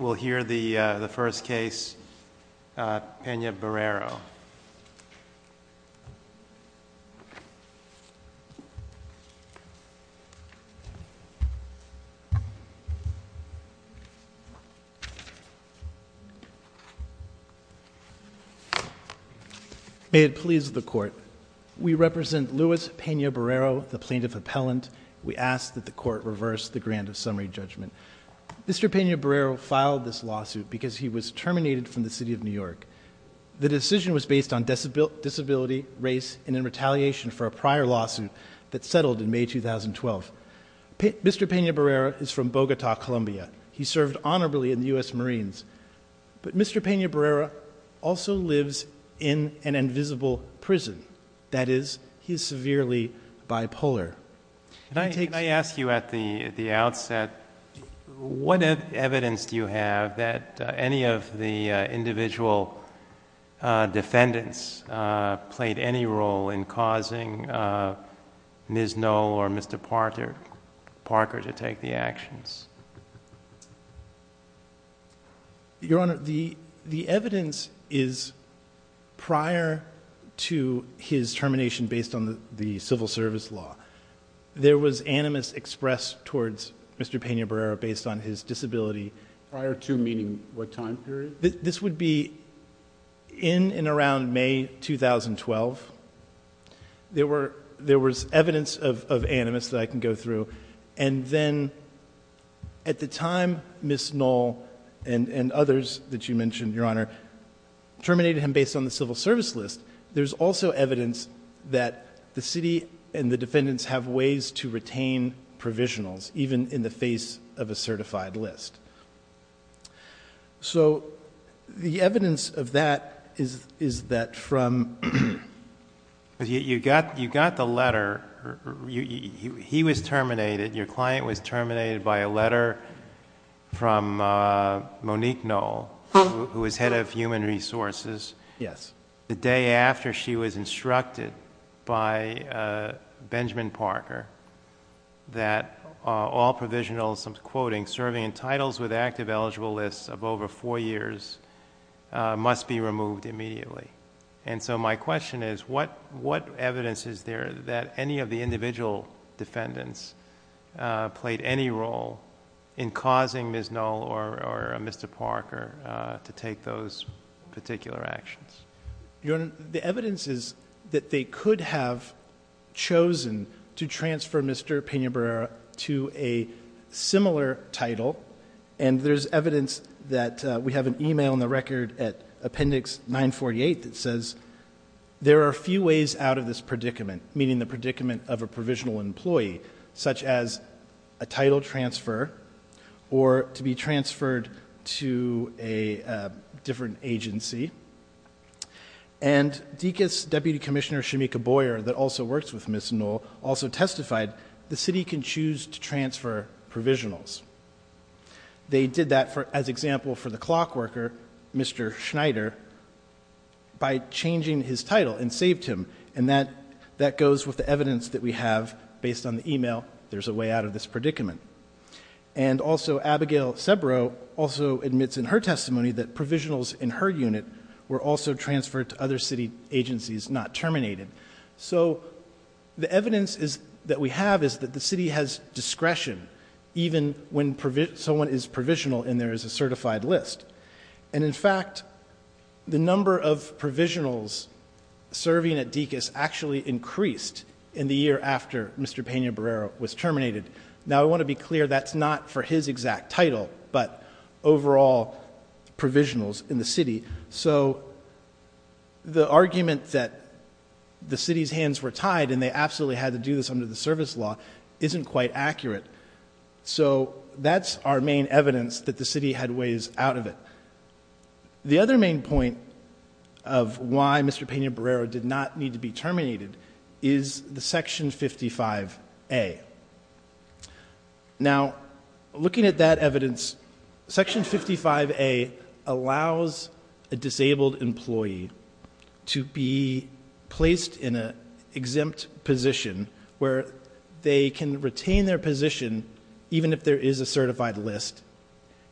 We'll hear the first case, Pena-Barrero. May it please the Court, we represent Luis Pena-Barrero, the plaintiff appellant. We ask that the Court reverse the grant of summary judgment. Mr. Pena-Barrero filed this lawsuit because he was terminated from the City of New York. The decision was based on disability, race, and in retaliation for a prior lawsuit that settled in May 2012. Mr. Pena-Barrero is from Bogota, Colombia. He served honorably in the U.S. Marines. But Mr. Pena-Barrero also lives in an invisible prison. That is, he is severely bipolar. Can I ask you at the outset, what evidence do you have that any of the individual defendants played any role in causing Ms. Knoll or Mr. Parker to take the actions? Your Honor, the evidence is prior to his termination based on the civil service law. There was animus expressed towards Mr. Pena-Barrero based on his disability. Prior to meaning what time period? This would be in and around May 2012. There was evidence of animus that I can go through. And then at the time, Ms. Knoll and others that you mentioned, Your Honor, terminated him based on the civil service list. There's also evidence that the city and the defendants have ways to retain provisionals, even in the face of a certified list. So the evidence of that is that from- You got the letter. He was terminated. Your client was terminated by a letter from Monique Knoll, who was head of human resources. Yes. The day after she was instructed by Benjamin Parker that all provisionals, I'm quoting, serving in titles with active eligible lists of over four years must be removed immediately. And so my question is, what evidence is there that any of the individual defendants played any role in causing Ms. Knoll or Mr. Parker to take those particular actions? Your Honor, the evidence is that they could have chosen to transfer Mr. Pena-Barrero to a similar title. And there's evidence that we have an email in the record at appendix 948 that says there are a few ways out of this predicament, meaning the predicament of a provisional employee, such as a title transfer or to be transferred to a different agency. And DCIS Deputy Commissioner Shamika Boyer, that also works with Ms. Knoll, also testified the city can choose to transfer provisionals. They did that as example for the clock worker, Mr. Schneider, by changing his title and saved him. And that goes with the evidence that we have based on the email, there's a way out of this predicament. And also, Abigail Sebrow also admits in her testimony that provisionals in her unit were also transferred to other city agencies, not terminated. So the evidence that we have is that the city has discretion, even when someone is provisional and there is a certified list. And in fact, the number of provisionals serving at DCIS actually increased in the year after Mr. Pena-Barrero was terminated. Now, I want to be clear, that's not for his exact title, but overall provisionals in the city. So the argument that the city's hands were tied and they absolutely had to do this under the service law isn't quite accurate. So that's our main evidence that the city had ways out of it. The other main point of why Mr. Pena-Barrero did not need to be terminated is the Section 55A. Now, looking at that evidence, Section 55A allows a disabled employee to be placed in an exempt position where they can retain their position, even if there is a certified list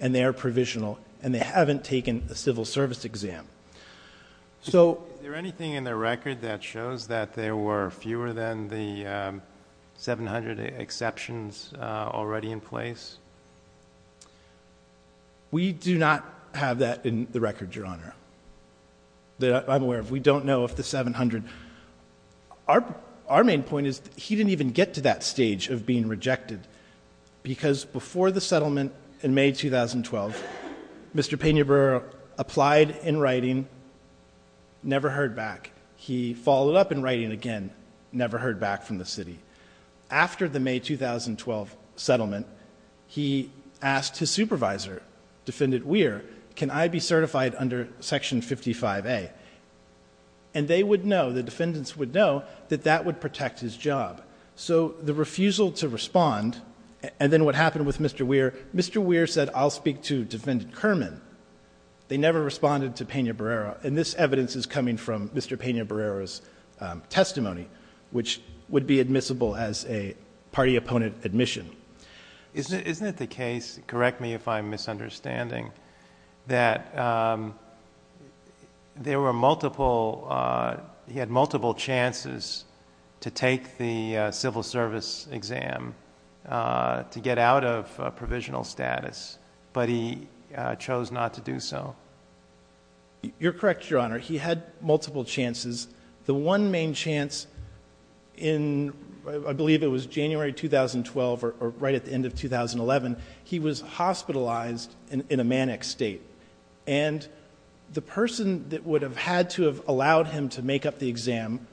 and they are provisional and they haven't taken a civil service exam. So... Is there anything in the record that shows that there were fewer than the 700 exceptions already in place? We do not have that in the record, Your Honor, that I'm aware of. We don't know if the 700... Our main point is that he didn't even get to that stage of being rejected because before the settlement in May 2012, Mr. Pena-Barrero applied in writing, never heard back. He followed up in writing again, never heard back from the city. After the May 2012 settlement, he asked his supervisor, Defendant Weir, can I be certified under Section 55A? And they would know, the defendants would know, that that would protect his job. So the refusal to respond, and then what happened with Mr. Weir, Mr. Weir said, I'll speak to Defendant Kerman. They never responded to Pena-Barrero. And this evidence is coming from Mr. Pena-Barrero's testimony, which would be admissible as a party-opponent admission. Isn't it the case, correct me if I'm misunderstanding, that there were multiple, he had multiple chances to take the civil service exam to get out of provisional status, but he chose not to do so? You're correct, Your Honor. He had multiple chances. The one main chance in, I believe it was January 2012 or right at the end of 2011, he was hospitalized in a manic state. And the person that would have had to have allowed him to make up the exam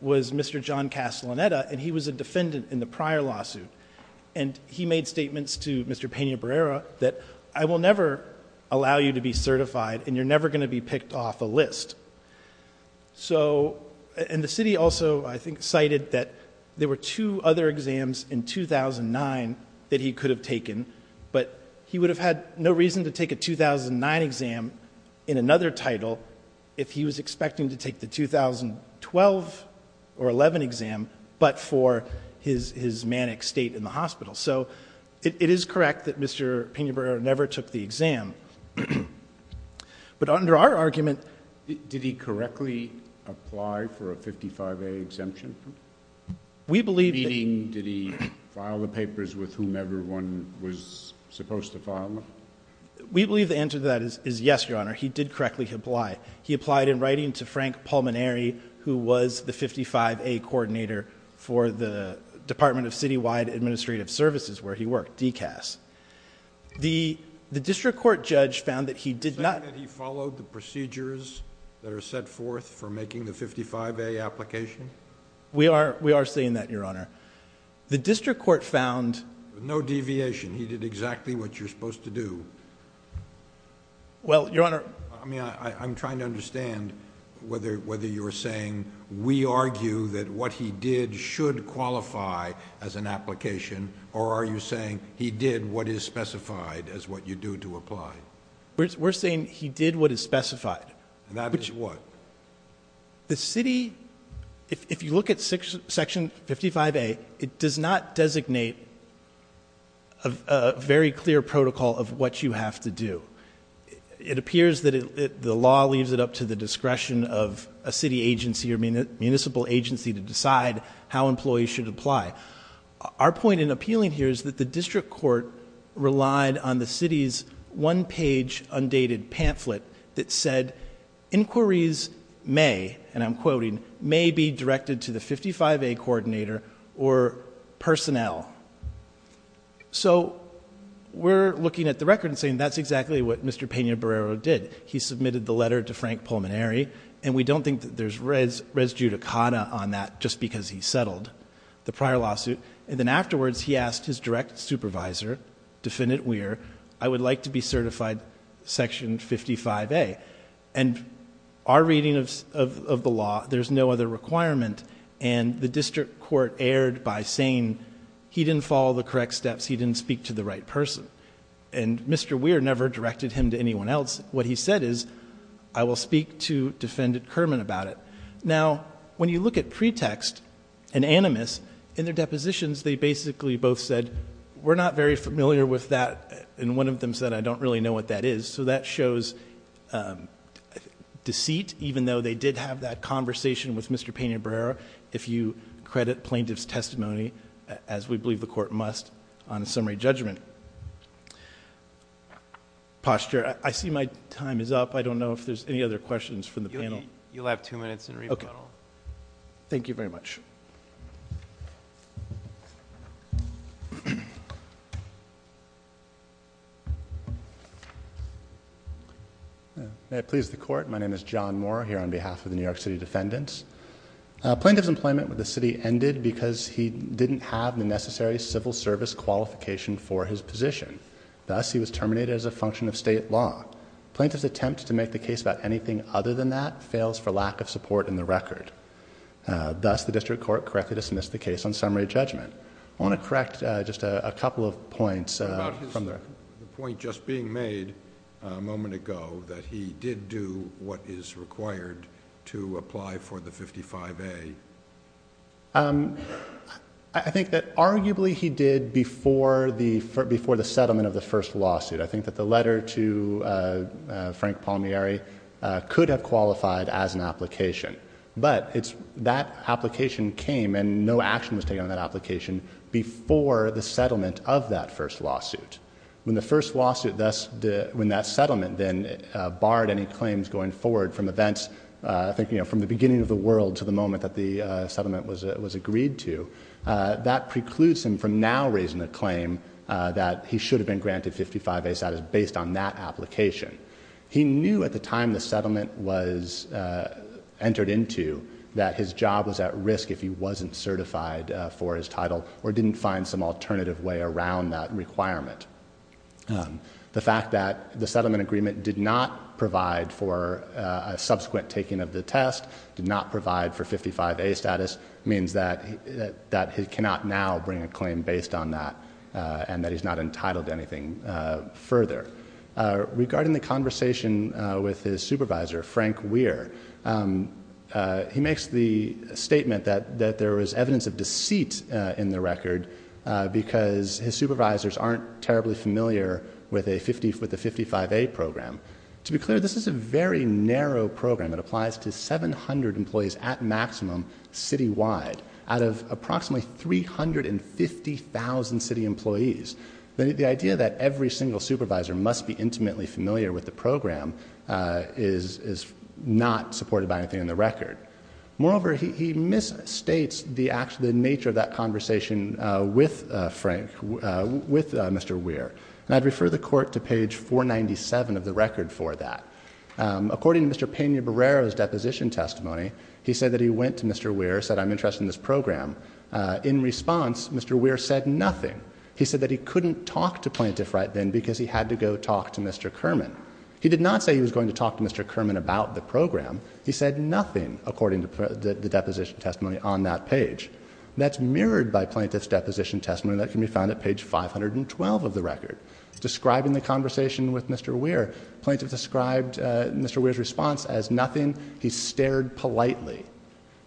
was Mr. John Castellaneta, and he was a defendant in the prior lawsuit. And he made statements to Mr. Pena-Barrero that I will never allow you to be certified And the city also, I think, cited that there were two other exams in 2009 that he could have taken, but he would have had no reason to take a 2009 exam in another title if he was expecting to take the 2012 or 2011 exam but for his manic state in the hospital. So it is correct that Mr. Pena-Barrero never took the exam. But under our argument... Did he correctly apply for a 55A exemption? Did he file the papers with whom everyone was supposed to file them? We believe the answer to that is yes, Your Honor. He did correctly apply. He applied in writing to Frank Pulmonary, who was the 55A coordinator The district court judge found that he did not... You're saying that he followed the procedures that are set forth for making the 55A application? We are saying that, Your Honor. The district court found... No deviation. He did exactly what you're supposed to do. Well, Your Honor... I mean, I'm trying to understand whether you're saying we argue that what he did should qualify as an application or are you saying he did what is specified as what you do to apply? We're saying he did what is specified. And that is what? The city... If you look at Section 55A, it does not designate a very clear protocol of what you have to do. It appears that the law leaves it up to the discretion of a city agency or municipal agency to decide how employees should apply. Our point in appealing here is that the district court relied on the city's one-page, undated pamphlet that said inquiries may, and I'm quoting, may be directed to the 55A coordinator or personnel. So we're looking at the record and saying that's exactly what Mr. Peña-Barrero did. He submitted the letter to Frank Pulmonary, and we don't think that there's res judicata on that just because he settled. The prior lawsuit, and then afterwards he asked his direct supervisor, Defendant Weir, I would like to be certified Section 55A. And our reading of the law, there's no other requirement, and the district court erred by saying he didn't follow the correct steps, he didn't speak to the right person. And Mr. Weir never directed him to anyone else. What he said is I will speak to Defendant Kerman about it. Now, when you look at pretext and animus, in their depositions they basically both said we're not very familiar with that, and one of them said I don't really know what that is. So that shows deceit, even though they did have that conversation with Mr. Peña-Barrero, if you credit plaintiff's testimony, as we believe the court must, on a summary judgment. Posture. I see my time is up. You'll have two minutes in rebuttal. Thank you very much. May it please the court, my name is John Moore, here on behalf of the New York City Defendants. Plaintiff's employment with the city ended because he didn't have the necessary civil service qualification for his position. Thus, he was terminated as a function of state law. Plaintiff's attempt to make the case about anything other than that fails for lack of support in the record. Thus, the district court correctly dismissed the case on summary judgment. I want to correct just a couple of points. The point just being made a moment ago, that he did do what is required to apply for the 55A. I think that arguably he did before the settlement of the first lawsuit. I think that the letter to Frank Palmieri could have qualified as an application. But that application came and no action was taken on that application before the settlement of that first lawsuit. When the first lawsuit, when that settlement then barred any claims going forward from events, I think from the beginning of the world to the moment that the settlement was agreed to, that precludes him from now raising a claim that he should have been granted 55A status based on that application. He knew at the time the settlement was entered into that his job was at risk if he wasn't certified for his title, or didn't find some alternative way around that requirement. The fact that the settlement agreement did not provide for a subsequent taking of the test, did not provide for 55A status, means that he cannot now bring a claim based on that, and that he's not entitled to anything further. Regarding the conversation with his supervisor, Frank Weir, he makes the statement that there was evidence of deceit in the record because his supervisors aren't terribly familiar with the 55A program. To be clear, this is a very narrow program. It applies to 700 employees at maximum citywide out of approximately 350,000 city employees. The idea that every single supervisor must be intimately familiar with the program is not supported by anything in the record. Moreover, he misstates the nature of that conversation with Frank, with Mr. Weir. And I'd refer the Court to page 497 of the record for that. According to Mr. Peña-Barrero's deposition testimony, he said that he went to Mr. Weir, said I'm interested in this program. In response, Mr. Weir said nothing. He said that he couldn't talk to plaintiff right then because he had to go talk to Mr. Kerman. He did not say he was going to talk to Mr. Kerman about the program. He said nothing, according to the deposition testimony on that page. That's mirrored by plaintiff's deposition testimony that can be found at page 512 of the record. Describing the conversation with Mr. Weir, plaintiff described Mr. Weir's response as nothing. He stared politely.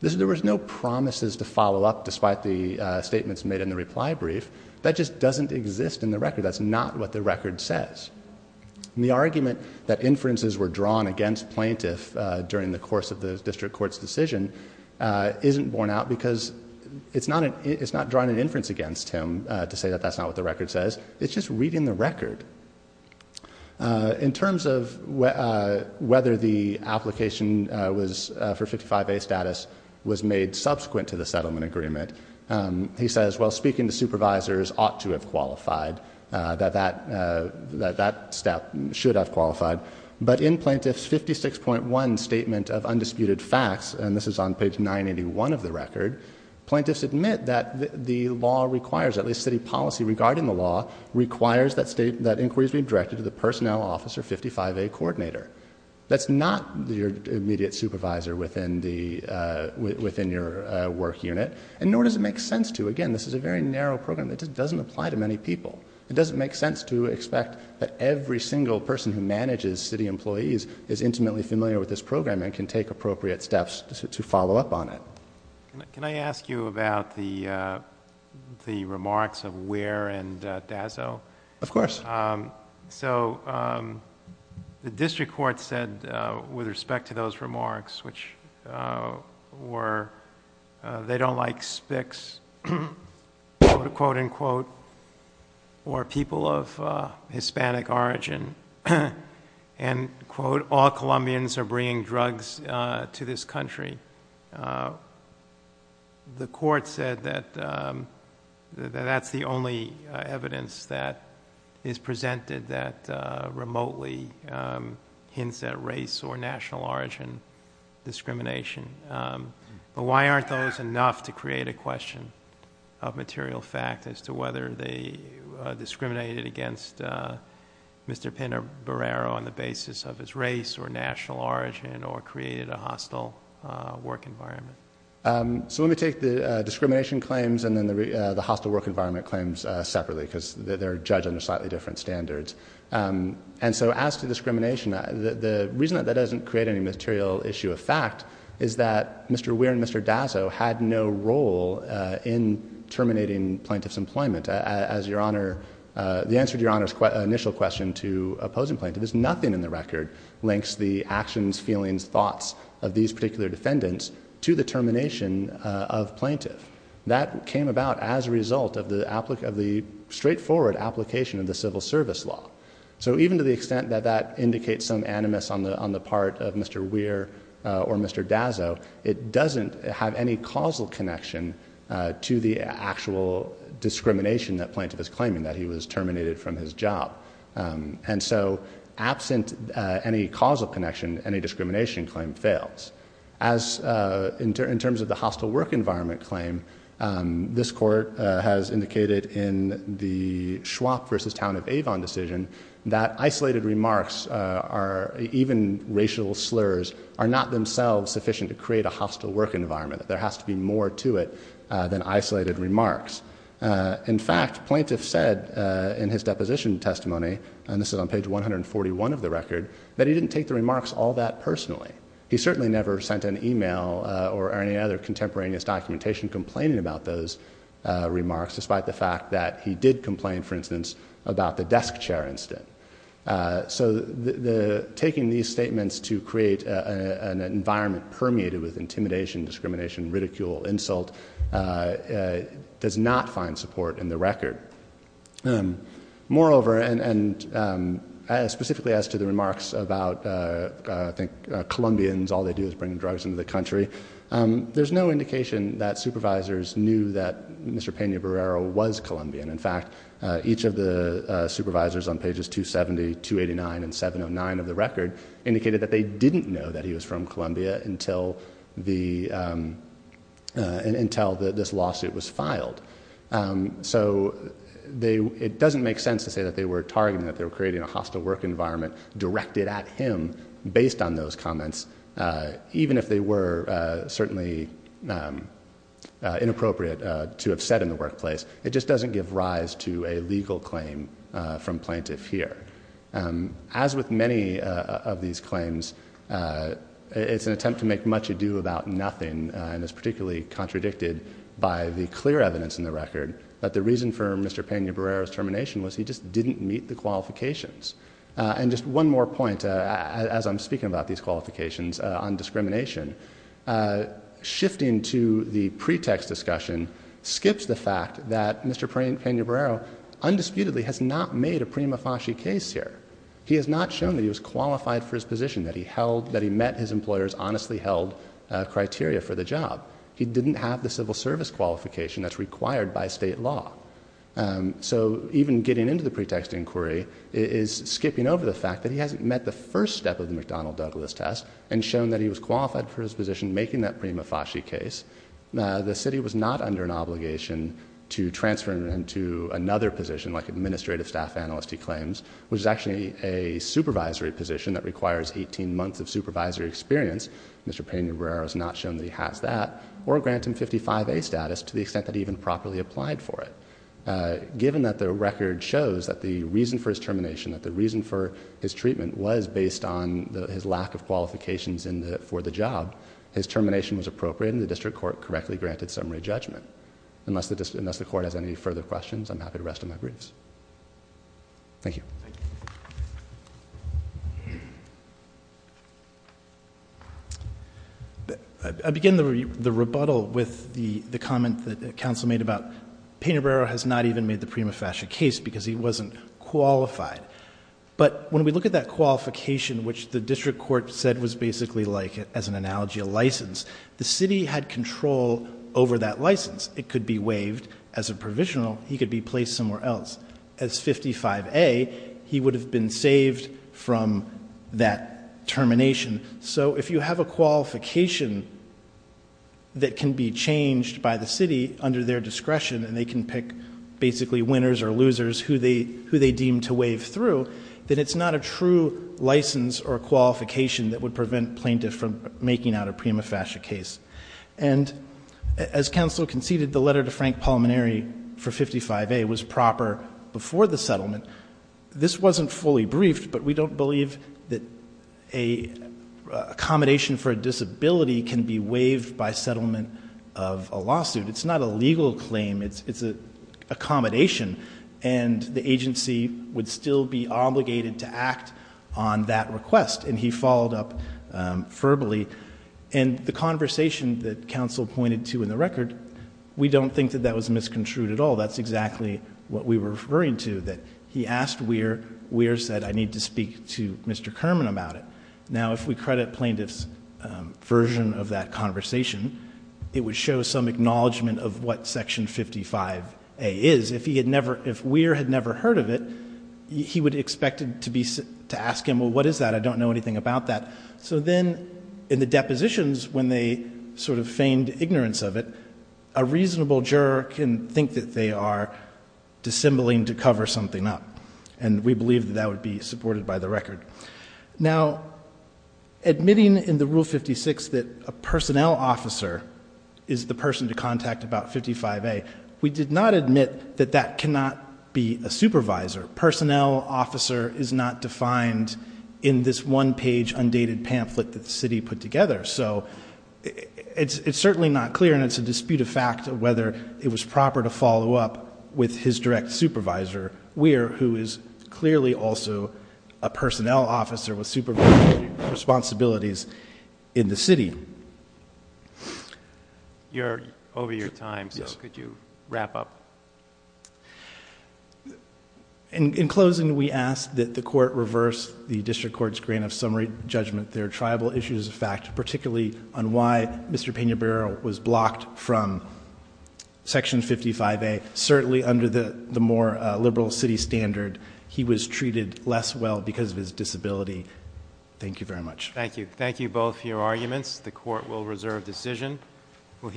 There was no promises to follow up despite the statements made in the reply brief. That just doesn't exist in the record. That's not what the record says. And the argument that inferences were drawn against plaintiff during the course of the district court's decision isn't borne out because it's not drawing an inference against him to say that that's not what the record says. It's just reading the record. In terms of whether the application for 55A status was made subsequent to the settlement agreement, he says, well, speaking to supervisors ought to have qualified, that that step should have qualified. But in plaintiff's 56.1 statement of undisputed facts, and this is on page 981 of the record, plaintiffs admit that the law requires, at least city policy regarding the law, requires that inquiries be directed to the personnel officer 55A coordinator. That's not your immediate supervisor within your work unit. And nor does it make sense to, again, this is a very narrow program. It just doesn't apply to many people. It doesn't make sense to expect that every single person who manages city employees is intimately familiar with this program and can take appropriate steps to follow up on it. Can I ask you about the remarks of Ware and Dazzo? Of course. So the district court said, with respect to those remarks, which were, they don't like Spics, quote, unquote, or people of Hispanic origin, and, quote, all Colombians are bringing drugs to this country. The court said that that's the only evidence that is presented that remotely hints at race or national origin discrimination. But why aren't those enough to create a question of material fact as to whether they discriminated against Mr. Pinabarero on the basis of his race or national origin or created a hostile work environment? So let me take the discrimination claims and then the hostile work environment claims separately, because they're judged under slightly different standards. And so as to discrimination, the reason that that doesn't create any material issue of fact is that Mr. Ware and Mr. Dazzo had no role in terminating plaintiff's employment. The answer to Your Honor's initial question to opposing plaintiff is nothing in the record links the actions, feelings, thoughts of these particular defendants to the termination of plaintiff. That came about as a result of the straightforward application of the civil service law. So even to the extent that that indicates some animus on the part of Mr. Ware or Mr. Dazzo, it doesn't have any causal connection to the actual discrimination that plaintiff is claiming, that he was terminated from his job. And so absent any causal connection, any discrimination claim fails. As in terms of the hostile work environment claim, this court has indicated in the Schwab versus Town of Avon decision that isolated remarks, even racial slurs, are not themselves sufficient to create a hostile work environment. There has to be more to it than isolated remarks. In fact, plaintiff said in his deposition testimony, and this is on page 141 of the record, that he didn't take the remarks all that personally. He certainly never sent an email or any other contemporaneous documentation complaining about those remarks, despite the fact that he did complain, for instance, about the desk chair incident. So taking these statements to create an environment permeated with intimidation, discrimination, ridicule, insult, does not find support in the record. Moreover, and specifically as to the remarks about, I think, Colombians, all they do is bring drugs into the country, there's no indication that supervisors knew that Mr. Peña-Berrero was Colombian. In fact, each of the supervisors on pages 270, 289, and 709 of the record indicated that they didn't know that he was from Colombia until this lawsuit was filed. So it doesn't make sense to say that they were targeting, that they were creating a hostile work environment directed at him based on those comments, even if they were certainly inappropriate to have said in the workplace. It just doesn't give rise to a legal claim from plaintiff here. As with many of these claims, it's an attempt to make much ado about nothing, and is particularly contradicted by the clear evidence in the record that the reason for Mr. Peña-Berrero's termination was he just didn't meet the qualifications, and just one more point as I'm speaking about these qualifications on discrimination. Shifting to the pretext discussion skips the fact that Mr. Peña-Berrero undisputedly has not made a prima facie case here. He has not shown that he was qualified for his position, that he met his employer's honestly held criteria for the job. He didn't have the civil service qualification that's required by state law. So even getting into the pretext inquiry is skipping over the fact that he hasn't met the first step of the McDonnell-Douglas test, and shown that he was qualified for his position making that prima facie case. The city was not under an obligation to transfer him to another position like administrative staff analyst he claims, which is actually a supervisory position that requires 18 months of supervisory experience. Mr. Peña-Berrero has not shown that he has that or grant him 55A status to the extent that he even properly applied for it. Given that the record shows that the reason for his termination, that the reason for his treatment was based on his lack of qualifications for the job. His termination was appropriate and the district court correctly granted summary judgment. Unless the court has any further questions, I'm happy to rest on my briefs. Thank you. I begin the rebuttal with the comment that counsel made about, Peña-Berrero has not even made the prima facie case because he wasn't qualified. But when we look at that qualification, which the district court said was basically like as an analogy, a license. The city had control over that license. It could be waived as a provisional. He could be placed somewhere else. As 55A, he would have been saved from that termination. So if you have a qualification that can be changed by the city under their discretion and they can pick basically winners or losers who they deem to waive through, then it's not a true license or qualification that would prevent plaintiff from making out a prima facie case. And as counsel conceded, the letter to Frank Palmineri for 55A was proper before the settlement. This wasn't fully briefed, but we don't believe that accommodation for a disability can be waived by settlement of a lawsuit. It's not a legal claim. It's an accommodation. And the agency would still be obligated to act on that request. And he followed up verbally. And the conversation that counsel pointed to in the record, we don't think that that was misconstrued at all. That's exactly what we were referring to, that he asked Weir. Weir said, I need to speak to Mr. Kerman about it. Now, if we credit plaintiff's version of that conversation, it would show some acknowledgment of what Section 55A is. If Weir had never heard of it, he would have expected to ask him, well, what is that? I don't know anything about that. So then in the depositions, when they sort of feigned ignorance of it, a reasonable juror can think that they are dissembling to cover something up. And we believe that that would be supported by the record. Now, admitting in the Rule 56 that a personnel officer is the person to contact about 55A, we did not admit that that cannot be a supervisor. Personnel officer is not defined in this one-page, undated pamphlet that the city put together. So it's certainly not clear, and it's a dispute of fact of whether it was proper to follow up with his direct supervisor, Weir, who is clearly also a personnel officer with supervisory responsibilities in the city. You're over your time, so could you wrap up? In closing, we ask that the court reverse the district court's grant of summary judgment. There are tribal issues of fact, particularly on why Mr. Pena-Barrera was blocked from Section 55A. Certainly under the more liberal city standard, he was treated less well because of his disability. Thank you very much. Thank you. Thank you both for your arguments. The court will reserve decision.